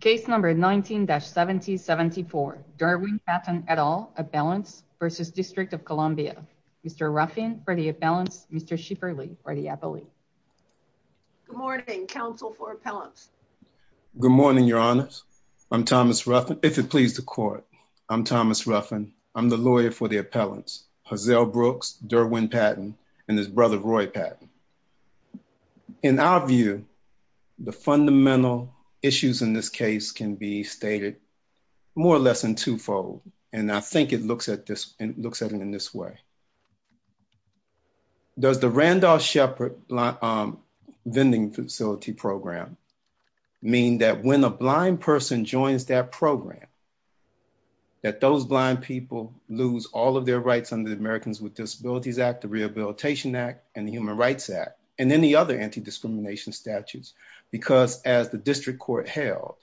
Case number 19-7074, Derwin Patten et al. Appellants v. District of Columbia. Mr. Ruffin for the appellants, Mr. Shifferly for the appellant. Good morning, counsel for appellants. Good morning, your honors. I'm Thomas Ruffin, if it pleases the court. I'm Thomas Ruffin. I'm the lawyer for the appellants, Hazel Brooks, Derwin Patten, and his brother, Roy Patten. In our view, the fundamental issues in this case can be stated more or less in twofold, and I think it looks at it in this way. Does the Randolph Shepard Vending Facility Program mean that when a blind person joins that program, that those blind people lose all of their rights under the Americans with Disabilities Act Rehabilitation Act and the Human Rights Act and any other anti-discrimination statutes? Because as the district court held,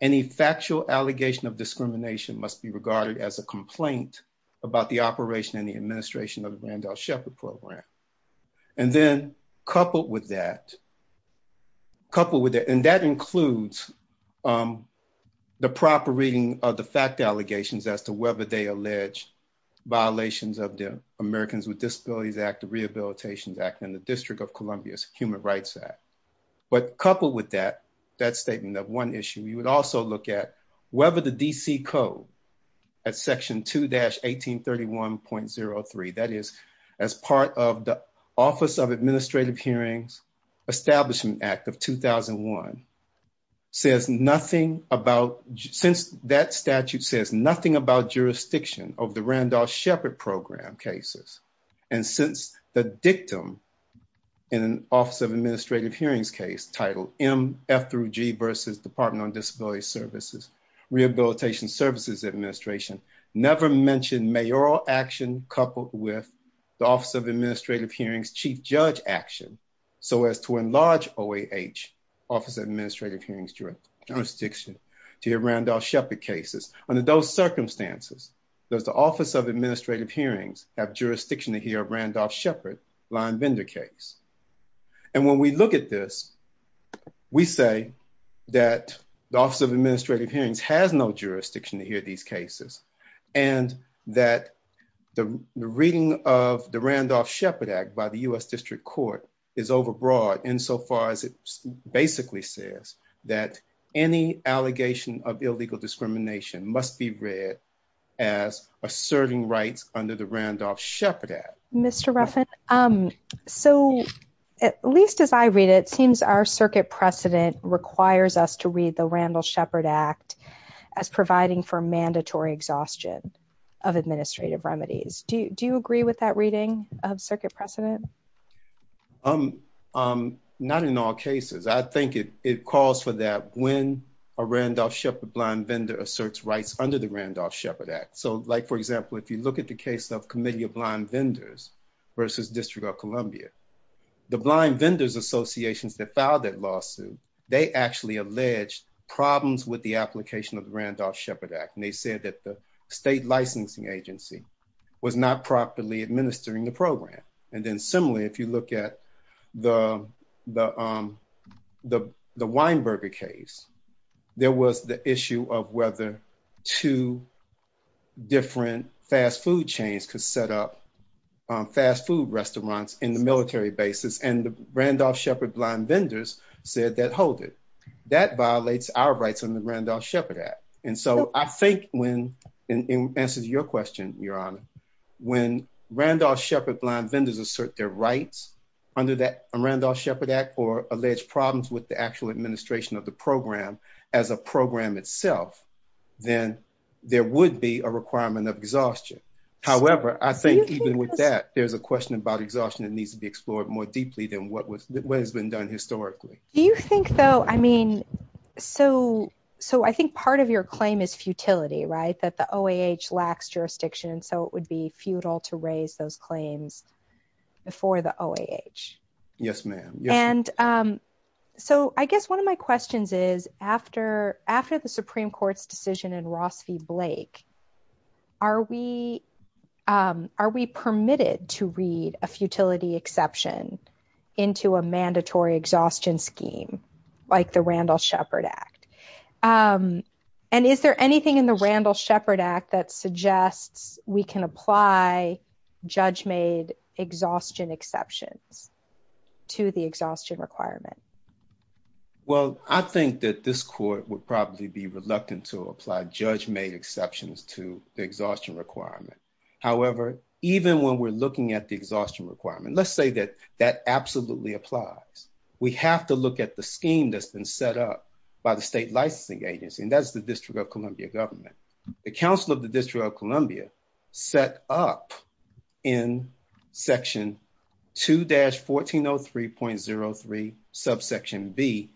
any factual allegation of discrimination must be regarded as a complaint about the operation and the administration of the Randolph Shepard Program. And then coupled with that, and that includes the proper reading of the fact allegations as to whether they allege violations of the Americans with Disabilities Act, the Rehabilitation Act, and the District of Columbia's Human Rights Act. But coupled with that, that statement of one issue, you would also look at whether the D.C. Code at Section 2-1831.03, that is, as part of the Office of Administrative Hearings Establishment Act of 2001, says nothing about that statute says nothing about jurisdiction of the Randolph Shepard Program cases. And since the dictum in an Office of Administrative Hearings case titled M.F.G. versus Department on Disability Services, Rehabilitation Services Administration never mentioned mayoral action coupled with the Office of Administrative Hearings chief judge action so as to enlarge OAH, Office of Administrative Hearings, jurisdiction to hear Randolph Shepard cases. Under those circumstances, does the Office of Administrative Hearings have jurisdiction to hear a Randolph Shepard line vendor case? And when we look at this, we say that the Office of Administrative Hearings has no jurisdiction to hear these cases and that the reading of Randolph Shepard Act by the U.S. District Court is overbroad insofar as it basically says that any allegation of illegal discrimination must be read as asserting rights under the Randolph Shepard Act. Mr. Ruffin, so at least as I read it, it seems our circuit precedent requires us to read the Randolph Shepard Act as providing for mandatory exhaustion of administrative remedies. Do you agree with that reading of circuit precedent? Not in all cases. I think it calls for that when a Randolph Shepard blind vendor asserts rights under the Randolph Shepard Act. So like for example, if you look at the case of committee of blind vendors versus District of Columbia, the blind vendors associations that filed that lawsuit, they actually alleged problems with the application of the Randolph Shepard Act. And they said that the state licensing agency was not properly administering the program. And then similarly, if you look at the Weinberger case, there was the issue of whether two different fast food chains could set up fast food restaurants in the military basis. And the Randolph Shepard blind vendors said that, hold it, that violates our rights in the Randolph Shepard Act. And so I think when it answers your question, your honor, when Randolph Shepard blind vendors assert their rights under that Randolph Shepard Act or alleged problems with the actual administration of the program as a program itself, then there would be a requirement of exhaustion. However, I think even with that, there's a question about exhaustion that needs to be explored more deeply than what has been done historically. Do you think though, I mean, so I think part of your claim is futility, right? That the OAH lacks jurisdiction. And so it would be futile to raise those claims before the OAH. And so I guess one of my questions is after the Supreme Court's decision in Ross v. Blake, are we permitted to read a futility exception into a mandatory exhaustion scheme like the Randolph Shepard Act? And is there anything in the Randolph Shepard Act that suggests we can apply judge-made exhaustion exceptions to the exhaustion requirement? Well, I think that this court would probably be reluctant to apply judge-made exceptions to the exhaustion requirement. However, even when we're looking at the exhaustion requirement, let's say that that absolutely applies. We have to look at the scheme that's been set up by the State Licensing Agency, and that's the District of Columbia government. The Council of the District of Columbia set up in section 2-1403.03, subsection B,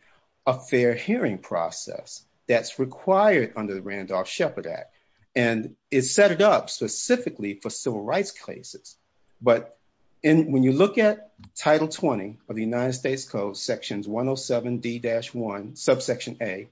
a fair hearing process that's required under the Randolph Shepard Act. And it's set it up specifically for civil rights cases. But when you look at Title 20 of the United States Code, sections 107D-1, subsection A,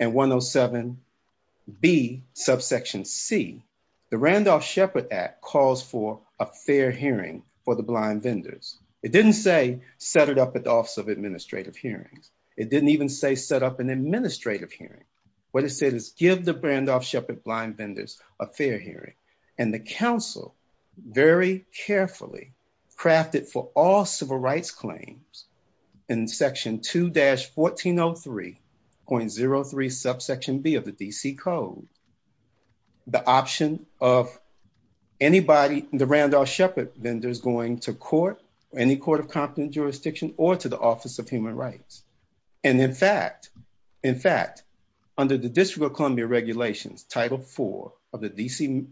and 107B, subsection C, the Randolph Shepard Act calls for a fair hearing for the blind vendors. It didn't say set it up at the Office of Administrative Hearings. It didn't even say set up an administrative hearing. What it said is give the Randolph Shepard blind vendors a fair hearing. And the Council very carefully crafted for all civil rights claims in section 2-1403.03, subsection B of the D.C. Code, the option of anybody, the Randolph Shepard vendors going to court, any court of competent jurisdiction, or to the Office of Human Rights. And in fact, in fact, under the District of Columbia Regulations, Title 4 of the D.C.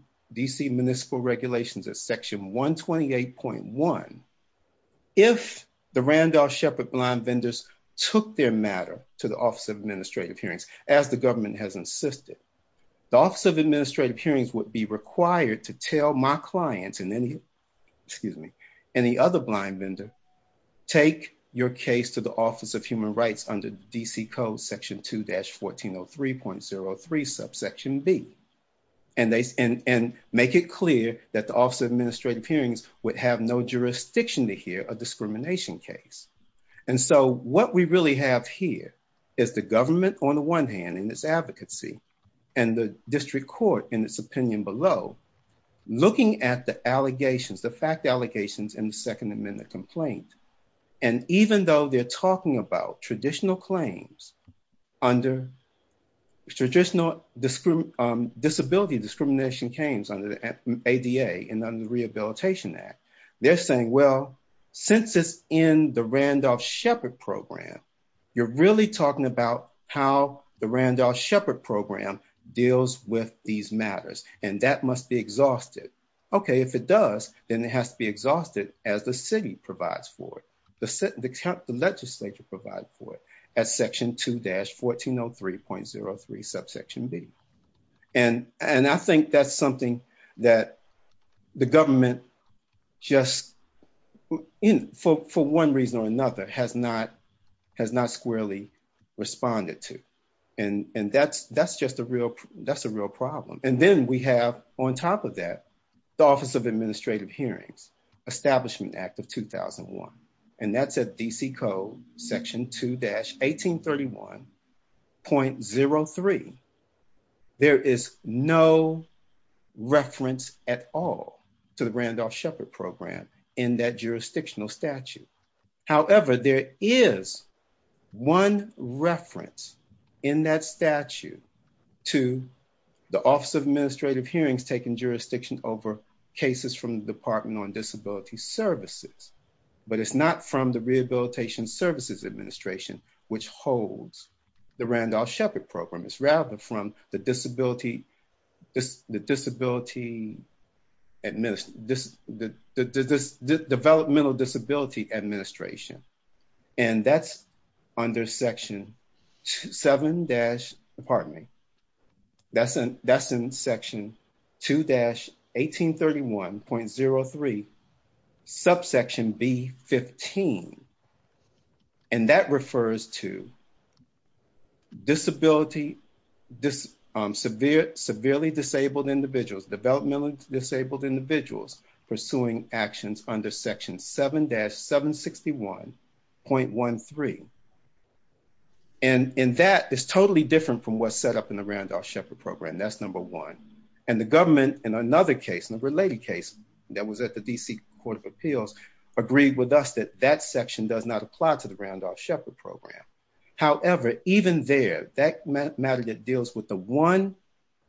Municipal Regulations at section 128.1, if the Randolph Shepard blind vendors took their matter to the Office of Administrative Hearings, as the government has insisted, the Office of Administrative Hearings would be required to tell my clients and any, excuse me, any other blind vendor, take your case to the Office of Human Rights under D.C. Code, section 2-1403.03, subsection B. And make it clear that the Office of Administrative Hearings would have no jurisdiction to hear a discrimination case. And so what we really have here is the government, on the one hand, in its advocacy, and the district court in its opinion below, looking at the allegations, the fact allegations in the Second Amendment complaint. And even though they're talking about traditional claims under traditional disability discrimination claims under the ADA and under the Rehabilitation Act, they're saying, well, since it's in the Randolph Shepard program, you're really talking about how the Randolph Shepard program deals with these matters, and that must be exhausted. Okay, if it does, then it has to be exhausted as the city provides for it, the legislature provides for it, as section 2-1403.03, subsection B. And I think that's something that the government just, you know, for one reason or another, has not squarely responded to. And that's just a real problem. And then we have, on top of that, the Office of Administrative Hearings, Establishment Act of 2001. And that's at D.C. Code, section 2-1831.03. There is no reference at all to the in that jurisdictional statute. However, there is one reference in that statute to the Office of Administrative Hearings taking jurisdiction over cases from the Department on Disability Services. But it's not from the Rehabilitation Services Administration, which holds the Randolph Shepard program. It's rather from the Developmental Disability Administration. And that's under section 7- pardon me, that's in section 2-1831.03, subsection B.15. And that refers to disability, severely disabled individuals, developmentally disabled individuals pursuing actions under section 7-761.13. And that is totally different from what's set up in the Randolph Shepard program. That's number one. And the government, in another case, in a related case that was at the D.C. Court of Appeals, agreed with us that that section does not apply to the Randolph Shepard program. However, even there, that matter that deals with the one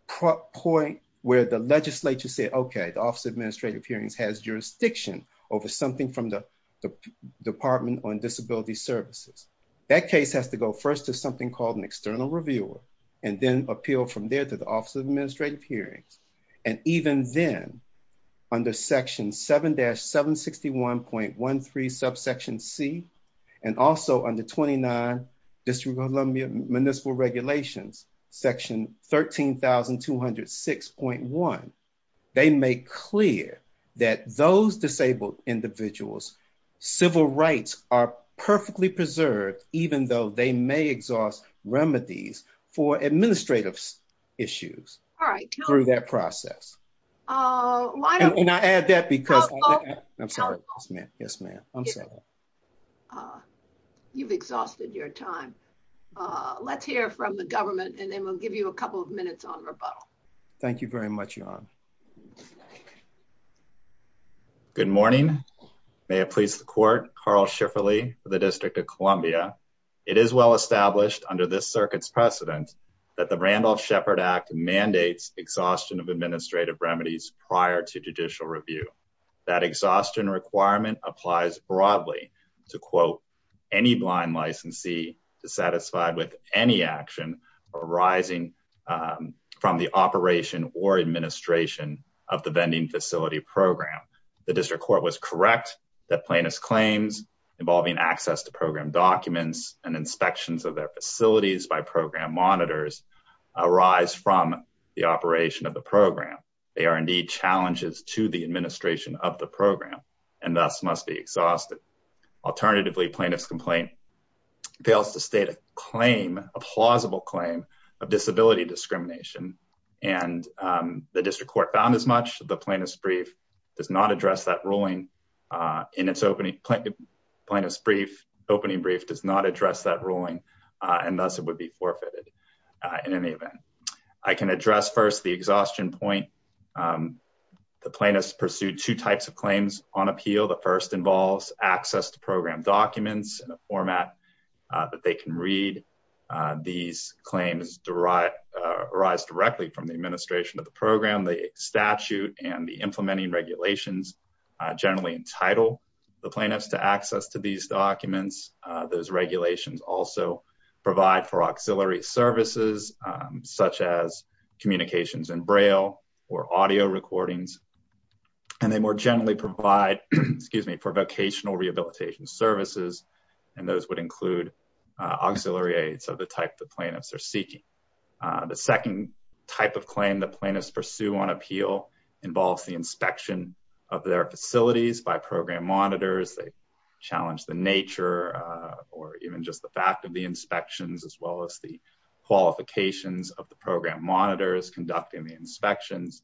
point where the legislature said, okay, the Office of Administrative Hearings has jurisdiction over something from the Department on Disability Services. That case has to go first to something called an external reviewer and then appeal from there to the Office of Administrative Hearings. And even then, under section 7-761.13, subsection C, and also under 29 District of Columbia Municipal Regulations, section 13206.1, they make clear that those disabled individuals' civil rights are perfectly preserved, even though they may exhaust remedies for administrative issues through that process. And I add that because, I'm sorry. You've exhausted your time. Let's hear from the government, and then we'll give you a couple of minutes on rebuttal. Thank you very much, Jan. Good morning. May it please the Court, Carl Schifferle for the District of Columbia. It is well established under this circuit's precedent that the Randolph Shepard Act mandates exhaustion of administrative remedies prior to judicial review. That exhaustion requirement applies broadly to, quote, any blind licensee dissatisfied with any action arising from the operation or administration of the vending facility program. The District Court was correct that plaintiff's claims involving access to program documents and inspections of their facilities by program monitors arise from the operation of the program. They are indeed challenges to the administration of the program, and thus must be exhausted. Alternatively, plaintiff's complaint fails to state a claim, a plausible claim, of disability discrimination. And the District Court found as much. The plaintiff's brief does not address that ruling in its opening plaintiff's brief. Opening brief does not address that ruling, and thus it would be forfeited in any event. I can address first the exhaustion point. The plaintiffs pursued two types of claims on appeal. The first involves access to program documents in a format that they can read. These claims arise directly from the administration of the program. The statute and the implementing regulations generally entitle the plaintiffs to access to these documents. Those regulations also provide for auxiliary services, such as communications in Braille or audio recordings. And they more generally provide, excuse me, for vocational rehabilitation services, and those would include auxiliary aids of the type the plaintiffs are seeking. The second type of claim that plaintiffs pursue on appeal involves the inspection of their facilities by program monitors. They challenge the nature, or even just the fact of the inspections, as well as the qualifications of the program monitors conducting the inspections.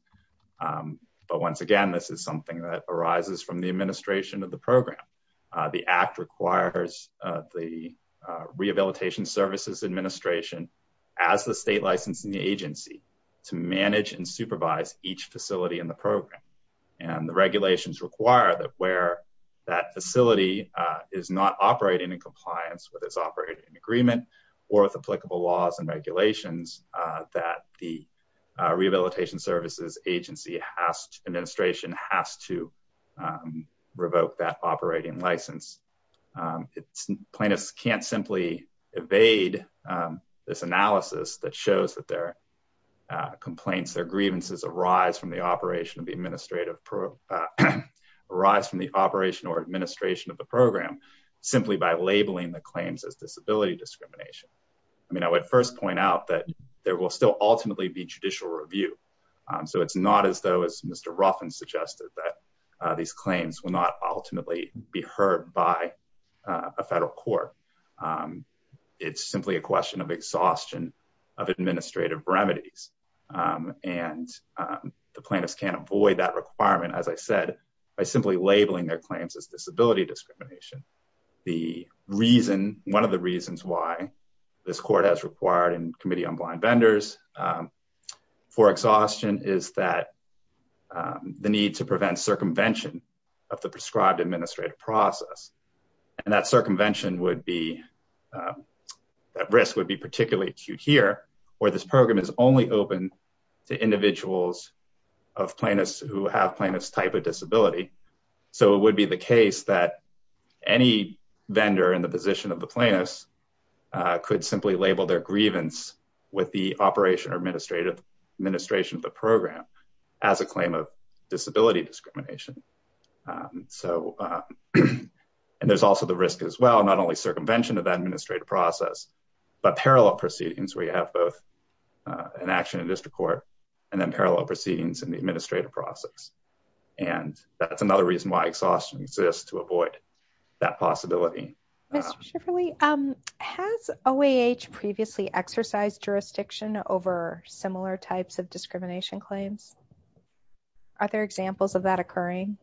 But once again, this is something that arises from the administration of the program. The Act requires the Rehabilitation Services Administration, as the state licensing agency, to manage and supervise each facility in the program. And the regulations require that where that facility is not operating in compliance, whether it's operating in agreement or with applicable laws and regulations, that the Rehabilitation Services Administration has to revoke that operating license. Plaintiffs can't simply evade this analysis that shows that their complaints, their grievances arise from the operation of the administrative, arise from the operation or administration of the program simply by labeling the claims as disability discrimination. I mean, I would first point out that there will still ultimately be review. So it's not as though as Mr. Ruffin suggested that these claims will not ultimately be heard by a federal court. It's simply a question of exhaustion of administrative remedies. And the plaintiffs can't avoid that requirement, as I said, by simply labeling their claims as disability discrimination. The reason, one of the reasons why this court has required and for exhaustion is that the need to prevent circumvention of the prescribed administrative process. And that circumvention would be, that risk would be particularly acute here, where this program is only open to individuals of plaintiffs who have plaintiff's type of disability. So it would be the case that any vendor in the position of the plaintiffs could simply label their grievance with the operation or administration of the program as a claim of disability discrimination. So, and there's also the risk as well, not only circumvention of that administrative process, but parallel proceedings where you have both an action in district court and then parallel proceedings in the administrative process. And that's another reason why exhaustion exists to avoid that possibility. Has OAH previously exercised jurisdiction over similar types of discrimination claims? Are there examples of that occurring?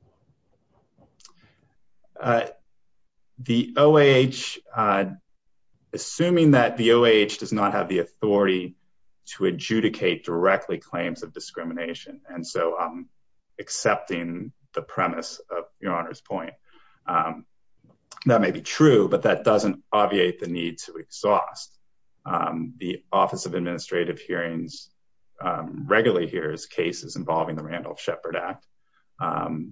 The OAH, assuming that the OAH does not have the authority to adjudicate directly claims of your honor's point. That may be true, but that doesn't obviate the need to exhaust. The office of administrative hearings regularly hears cases involving the Randolph Shepard Act.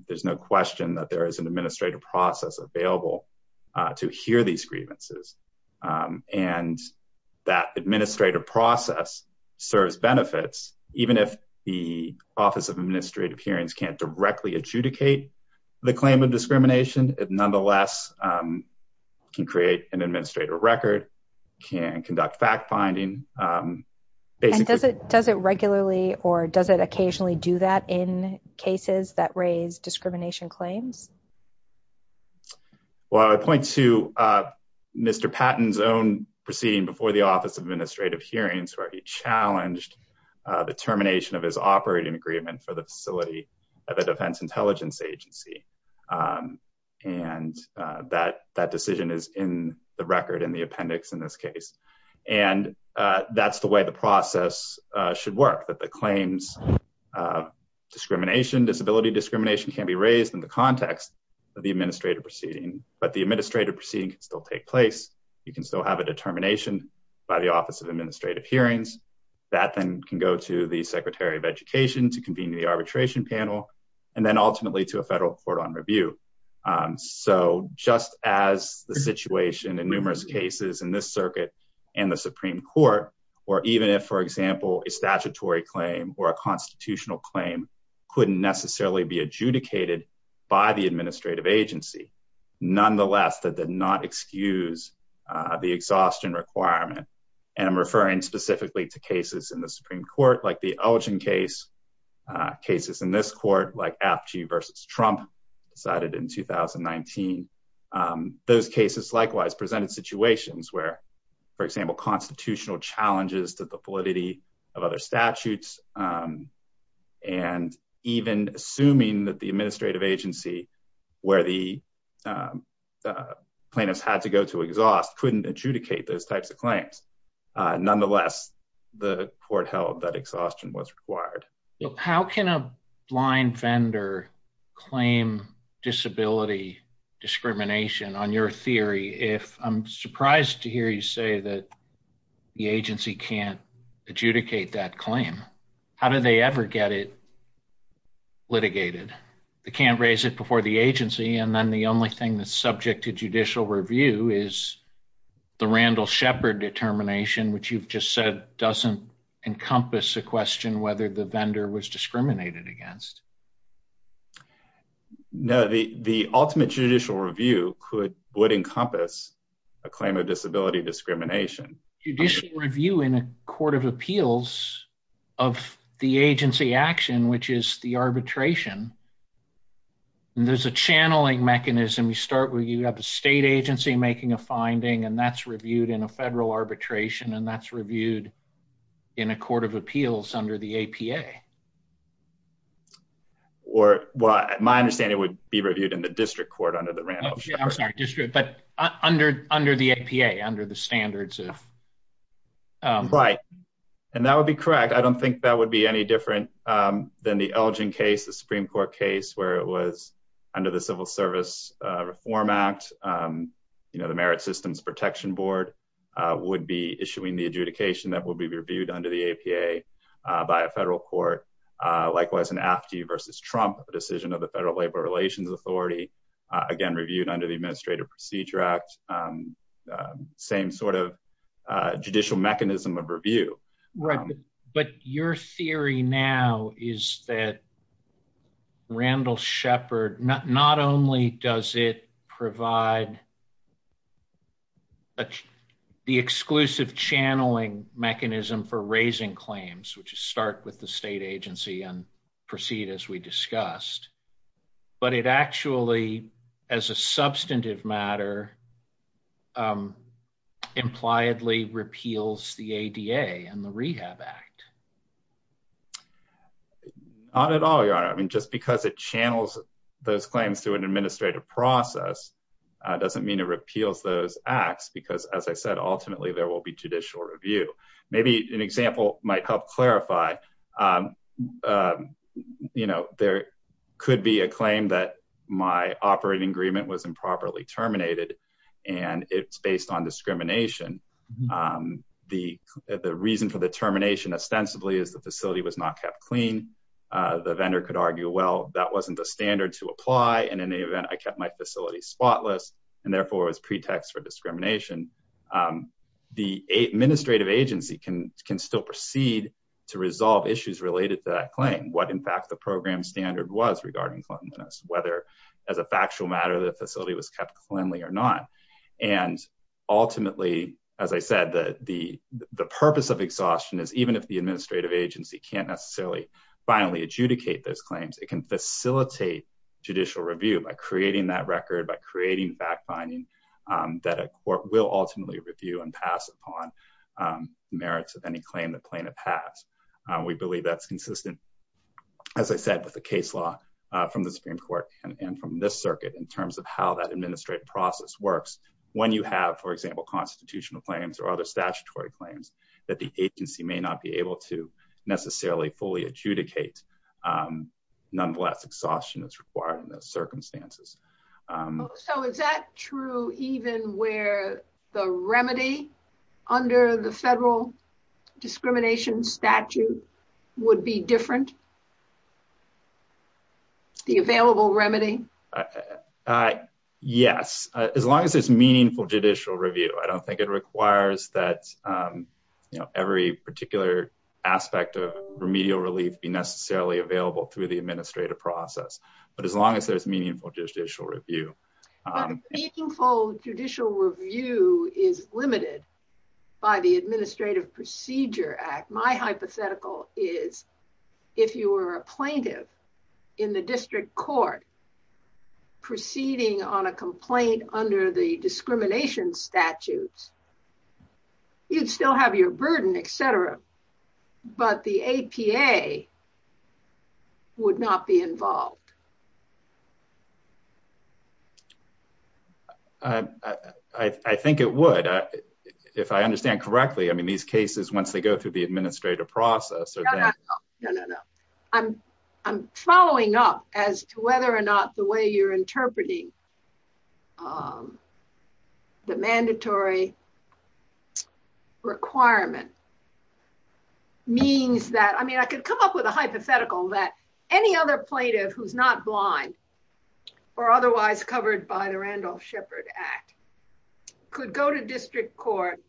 There's no question that there is an administrative process available to hear these grievances. And that administrative process serves benefits, even if the office of administrative hearings can't directly adjudicate the claim of discrimination, it nonetheless can create an administrative record, can conduct fact-finding. Does it regularly or does it occasionally do that in cases that raise discrimination claims? Well, I point to Mr. Patton's own proceeding before the office of administrative hearings where he challenged the termination of his operating agreement for the facility of a defense intelligence agency. And that decision is in the record in the appendix in this case. And that's the way the process should work, that the claims discrimination, disability discrimination can be raised in the context of the administrative proceeding, but the administrative proceeding can still take place. You can still have a the arbitration panel, and then ultimately to a federal court on review. So just as the situation in numerous cases in this circuit and the Supreme Court, or even if, for example, a statutory claim or a constitutional claim couldn't necessarily be adjudicated by the administrative agency. Nonetheless, that did not excuse the exhaustion requirement. And I'm referring specifically to cases in the Supreme Court, like the Elgin case, cases in this court, like Apchey v. Trump decided in 2019. Those cases likewise presented situations where, for example, constitutional challenges to the validity of other statutes, and even assuming that the administrative agency where the plaintiffs had to go to exhaust couldn't adjudicate those types of claims. Nonetheless, the court held that exhaustion was required. How can a blind vendor claim disability discrimination on your theory if I'm surprised to hear you say that the agency can't adjudicate that claim? How do they ever get it litigated? They can't raise it before the agency, and then the only thing that's subject to judicial review is the Randall Shepard determination, which you've just said doesn't encompass a question whether the vendor was discriminated against. No, the ultimate judicial review would encompass a claim of disability discrimination. Judicial review in a court of appeals of the agency action, which is the arbitration, and there's a channeling mechanism. You start making a finding, and that's reviewed in a federal arbitration, and that's reviewed in a court of appeals under the APA. My understanding would be reviewed in the district court under the Randall Shepard. I'm sorry, district, but under the APA, under the standards. Right, and that would be correct. I don't think that would be any different than the Elgin case, Supreme Court case, where it was under the Civil Service Reform Act. The Merit Systems Protection Board would be issuing the adjudication that would be reviewed under the APA by a federal court. Likewise, an AFTI versus Trump decision of the Federal Labor Relations Authority, again, reviewed under the Administrative Procedure Act, same judicial mechanism of review. Right, but your theory now is that Randall Shepard, not only does it provide the exclusive channeling mechanism for raising claims, which is start with the state agency and proceed as we discussed, but it actually, as a substantive matter, um, impliedly repeals the ADA and the Rehab Act. Not at all, Your Honor. I mean, just because it channels those claims to an administrative process doesn't mean it repeals those acts, because as I said, ultimately, there will be judicial review. Maybe an example might help clarify, um, um, you know, there could be a claim that my operating agreement was improperly terminated, and it's based on discrimination. Um, the, the reason for the termination, ostensibly, is the facility was not kept clean. Uh, the vendor could argue, well, that wasn't the standard to apply, and in any event, I kept my facility spotless, and therefore, it was pretext for discrimination. Um, the administrative agency can, can still proceed to resolve issues related to that claim, what in fact the program standard was regarding cleanliness, whether as a factual matter, the facility was kept cleanly or not, and ultimately, as I said, the, the, the purpose of exhaustion is even if the administrative agency can't necessarily finally adjudicate those claims, it can facilitate judicial review by creating that record, by creating fact-finding, um, that a court will ultimately review and pass upon, um, merits of any claim that plaintiff has. We believe that's consistent, as I said, with the case law, uh, from the Supreme Court and, and from this circuit in terms of how that administrative process works when you have, for example, constitutional claims or other statutory claims that the agency may not be able to necessarily fully adjudicate, um, nonetheless, exhaustion that's required in those circumstances. So is that true even where the remedy under the federal discrimination statute would be different? The available remedy? Uh, yes, as long as it's meaningful judicial review. I don't think it requires that, um, you know, every particular aspect of remedial relief be necessarily available through the administrative process, but as long as there's meaningful judicial review. But meaningful judicial review is limited by the Administrative Procedure Act. My hypothetical is if you were a plaintiff in the district court proceeding on a complaint under the discrimination statutes, you'd still have your burden, et cetera, but the APA would not be involved. Uh, I, I think it would, if I understand correctly. I mean, these cases, once they go through the administrative process. No, no, no. I'm, I'm following up as to whether or not the way you're interpreting, um, the mandatory requirement means that, I mean, I could come up with a hypothetical that any other plaintiff who's not blind or otherwise covered by the Randolph Shepard Act could go to district court,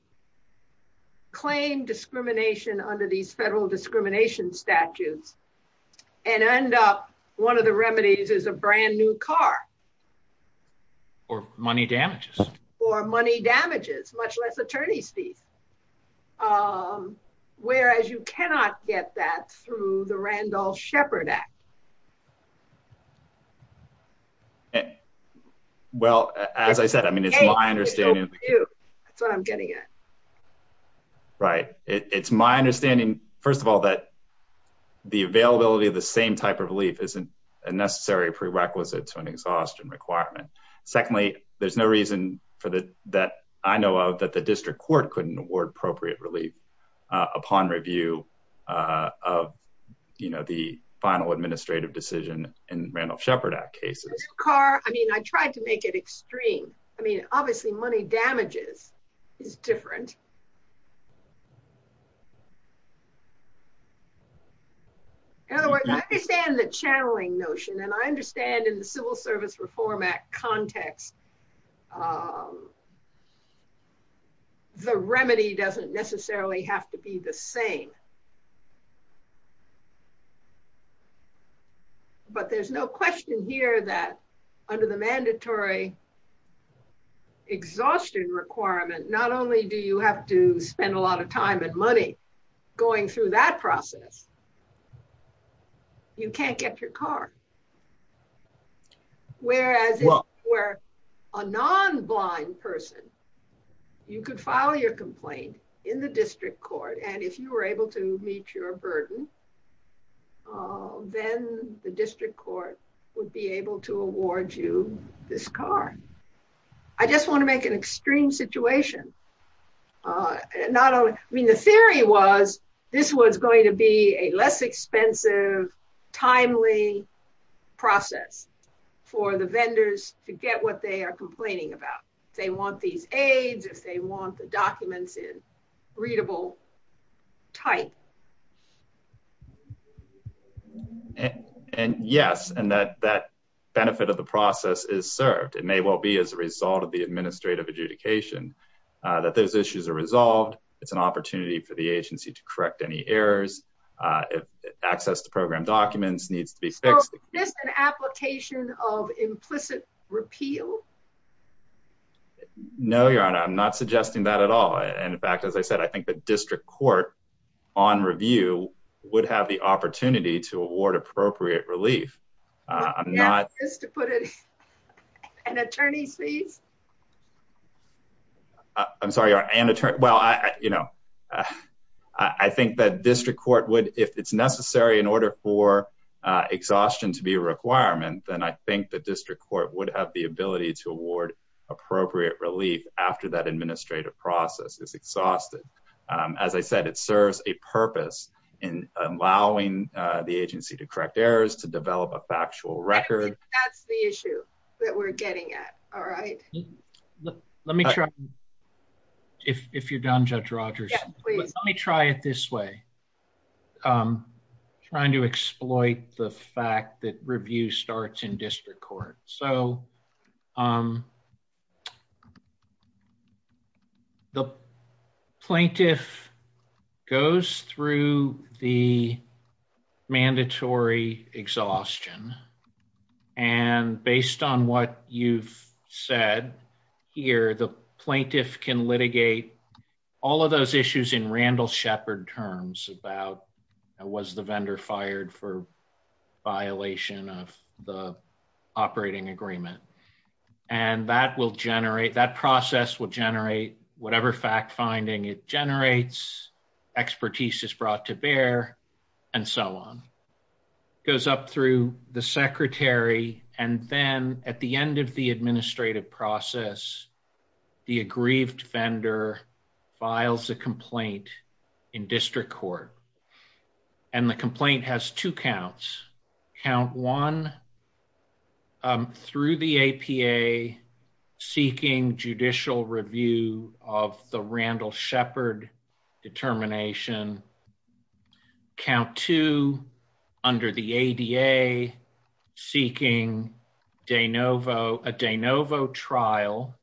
claim discrimination under these conditions. Um, whereas you cannot get that through the Randolph Shepard Act. Well, as I said, I mean, it's my understanding. That's what I'm getting at. Right. It's my understanding, first of all, that the availability of the same type of relief isn't a necessary prerequisite to an exhaustion requirement. Secondly, there's no reason for the, that I know of that the district court couldn't award appropriate relief, uh, upon review, uh, of, you know, the final administrative decision in Randolph Shepard Act cases. Car. I mean, I tried to make it extreme. I mean, obviously money damages is different. In other words, I understand the channeling notion, and I understand in the civil service reform act context, um, the remedy doesn't necessarily have to be the same, but there's no question here that under the mandatory exhaustion requirement, not only do you have to spend a lot of time and money going through that process, you can't get your car. Whereas where a non blind person, you could file your complaint in the district court. And if you were able to meet your burden, uh, then the district court would be able to award you this car. I just want to make an extreme situation. Uh, not only, I mean, the theory was this was going to be a less expensive, timely process for the vendors to get what they are complaining about. They want these aids if they want the documents in readable type. And yes, and that that benefit of the process is served. It may well be as a result of the administrative adjudication that those issues are resolved. It's an opportunity for the agency to correct any errors. Uh, access to program documents needs to be fixed. This is an application of implicit repeal. No, Your Honor. I'm not suggesting that at all. And in fact, as I said, I think the district court on review would have the opportunity to award appropriate relief. I'm not just to put it an attorney's fees. I'm sorry, Your Honor. Well, you know, I think that district court would if it's necessary in order for exhaustion to be a requirement, then I think the district court would have the ability to award appropriate relief after that administrative process is exhausted. As I said, it serves a purpose in allowing the agency to correct errors to develop a factual record. That's the issue that we're getting at. All right. Let me try. If you're done, Judge Rogers, let me try it this way. I'm trying to exploit the fact that review starts in district court. So, um, the plaintiff goes through the mandatory exhaustion and based on what you've said here, the plaintiff can litigate all of those issues in Randall Shepard terms about was the vendor fired for violation of the operating agreement and that will generate that process will generate whatever fact finding it generates expertise is brought to bear and so on. It goes up through the secretary and then at the end of the administrative process, the aggrieved vendor files a complaint in district court and the complaint has two counts. Count one through the APA seeking judicial review of the Randall Shepard determination. Count two under the ADA seeking a de novo trial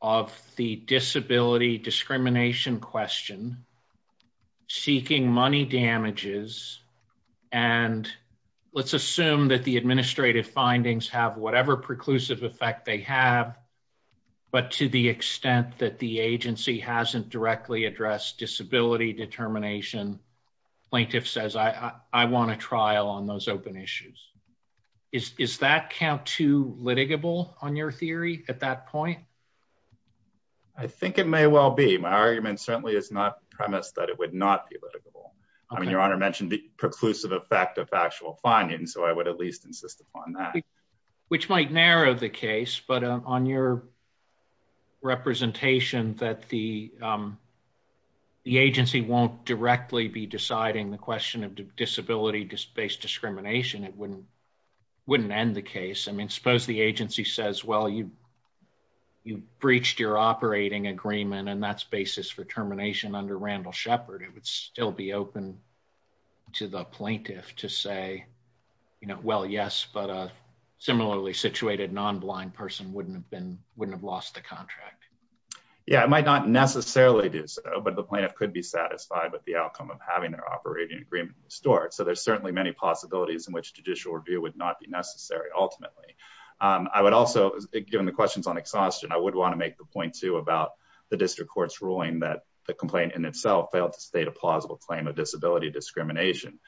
of the disability discrimination question seeking money damages and let's assume that the administrative findings have whatever preclusive effect they have but to the extent that the agency hasn't directly addressed disability determination, plaintiff says, I want a trial on those open issues. Is that count to litigable on your theory at that point? I think it may well be. My argument certainly is not premised that it would not be litigable. I mean, your honor mentioned the preclusive effect of actual findings. So I would at least insist upon that, which might narrow the case, but on your representation that the agency won't directly be deciding the question of disability-based discrimination, it wouldn't end the case. I mean, suppose the agency says, well, you breached your operating agreement and that's basis for termination under Randall wouldn't have lost the contract. Yeah, it might not necessarily do so, but the plaintiff could be satisfied with the outcome of having their operating agreement restored. So there's certainly many possibilities in which judicial review would not be necessary. Ultimately, I would also given the questions on exhaustion, I would want to make the point too about the district court's ruling that the complaint in itself failed to state a plausible claim of disability discrimination.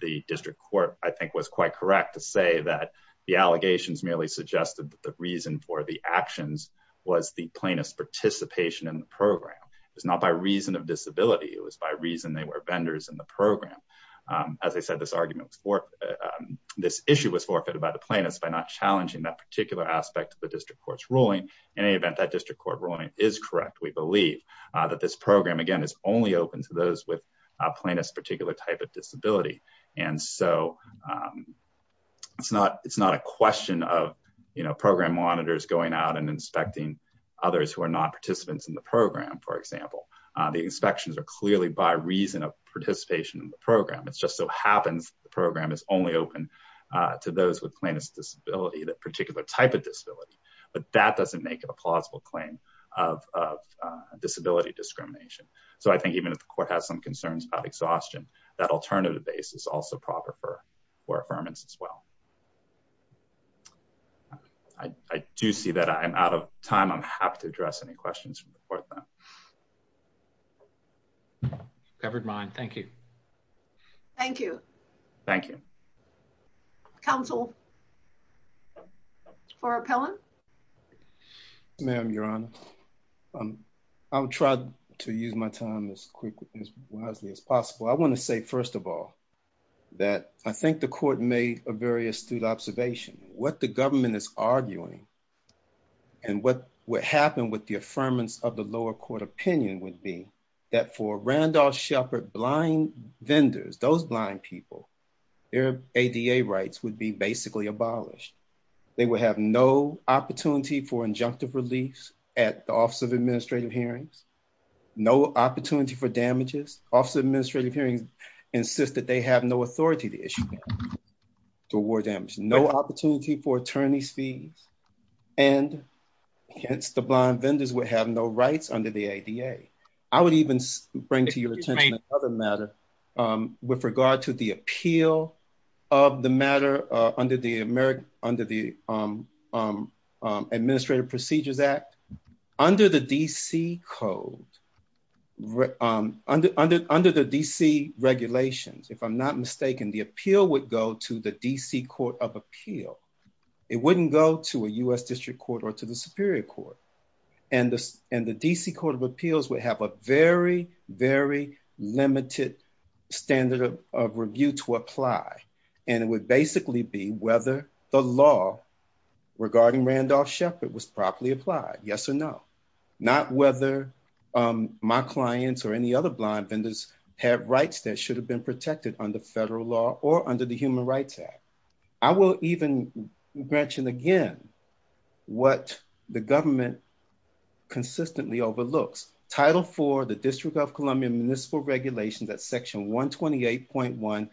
The district court, I think was quite correct to say that the allegations merely suggested that the reason for the actions was the plaintiff's participation in the program. It was not by reason of disability. It was by reason they were vendors in the program. As I said, this argument was for, this issue was forfeited by the plaintiffs by not challenging that particular aspect of the district court's ruling. In any event, that district court ruling is correct. We believe that this program, again, is only open to those with a plaintiff's particular type of disability. And so it's not a question of program monitors going out and inspecting others who are not participants in the program, for example. The inspections are clearly by reason of participation in the program. It's just so happens the program is only open to those with plaintiff's disability, that particular type of disability, but that doesn't make it a plausible claim of disability discrimination. So I think even if the court has some concerns about exhaustion, alternative basis is also proper for affirmance as well. I do see that I'm out of time. I'm happy to address any questions from the court then. Covered mine. Thank you. Thank you. Thank you. Counsel for Appellant? Yes, ma'am, Your Honor. I'll try to use my time as wisely as possible. I want to say, first of all, that I think the court made a very astute observation. What the government is arguing and what would happen with the affirmance of the lower court opinion would be that for Randolph Shepard blind vendors, those blind people, their ADA rights would be basically abolished. They would have no opportunity for injunctive release at the Office of Administrative Hearings, no opportunity for damages. Office of Administrative Hearings insists that they have no authority to issue damages, to award damages, no opportunity for attorney's fees, and hence the blind vendors would have no rights under the ADA. I would even bring to your attention another matter with regard to the appeal of the matter under the Administrative Procedures Act. Under the D.C. Code, under the D.C. regulations, if I'm not mistaken, the appeal would go to the D.C. Court of Appeal. It wouldn't go to a U.S. District Court or to the Superior Court. And the D.C. Court of Appeals would have a very, very limited standard of review to apply. And it would basically be whether the law regarding Randolph Shepard was properly applied, yes or no. Not whether my clients or any other blind vendors have rights that should have been protected under federal law or under the Human Rights Act. I will even mention again what the government consistently overlooks. Title IV, the District of Columbia Municipal Regulations, that's Section 128.1,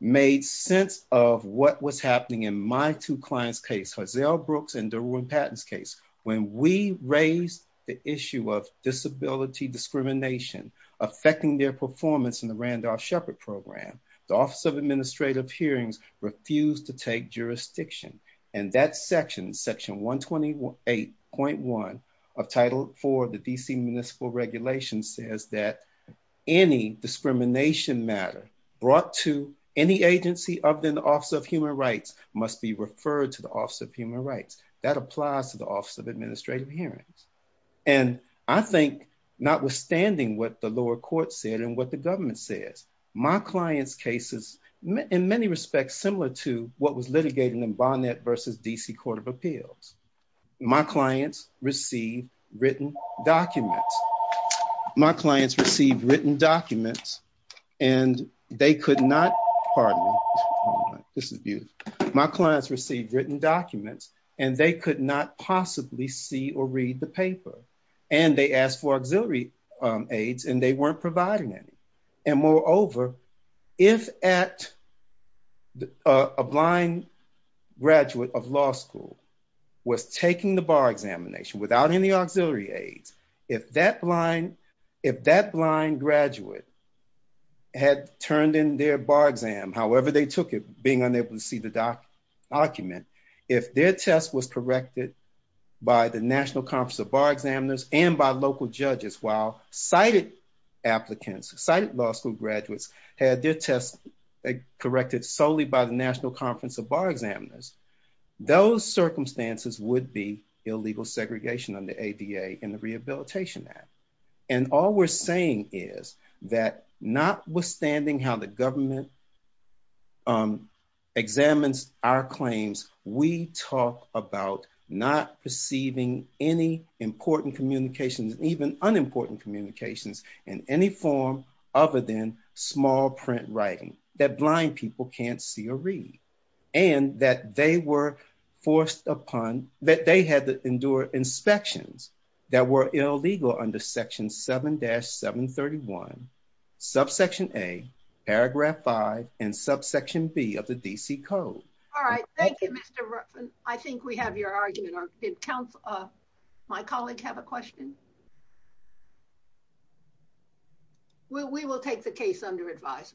made sense of what was happening in my two clients' case, Hazell Brooks and Derwin Patton's case. When we raised the issue of disability discrimination affecting their performance in the Randolph Shepard program, the Office of Administrative Hearings refused to take jurisdiction. And that section, Section 128.1 of Title IV of the D.C. Municipal Regulations says that any discrimination matter brought to any agency other than the Office of Human Rights must be referred to the Office of Human Rights. That applies to the Office of Administrative Hearings. And I think notwithstanding what the lower court said and what the government says, my client's case is in many respects similar to what was litigated in Barnett v. D.C. Court of Appeals. My clients received written documents. My clients received written documents and they could not, pardon me, this is beautiful. My clients received written documents and they could not possibly see or read the paper. And they asked for auxiliary aids and they weren't providing any. And moreover, if a blind graduate of law school was taking the bar examination without any auxiliary aids, if that blind graduate had turned in their bar exam, however they took it, being unable to see the document, if their test was corrected by the National Conference of Bar Examiners and by local judges while sighted applicants, sighted law school graduates, had their test corrected solely by the National Conference of Bar Examiners, those circumstances would be illegal segregation under ADA and the Rehabilitation Act. And all we're saying is that notwithstanding how the government examines our claims, we talk about not perceiving any important communications, even unimportant communications in any form other than small print writing that blind people can't see or read. And that they were forced upon, that they had to endure inspections that were illegal under Section 7-731, Subsection A, Paragraph 5, and Subsection B of the D.C. Code. All right. Thank you, Mr. Ruffin. I think we have your argument. Did my colleague have a question? We will take the case under advisement.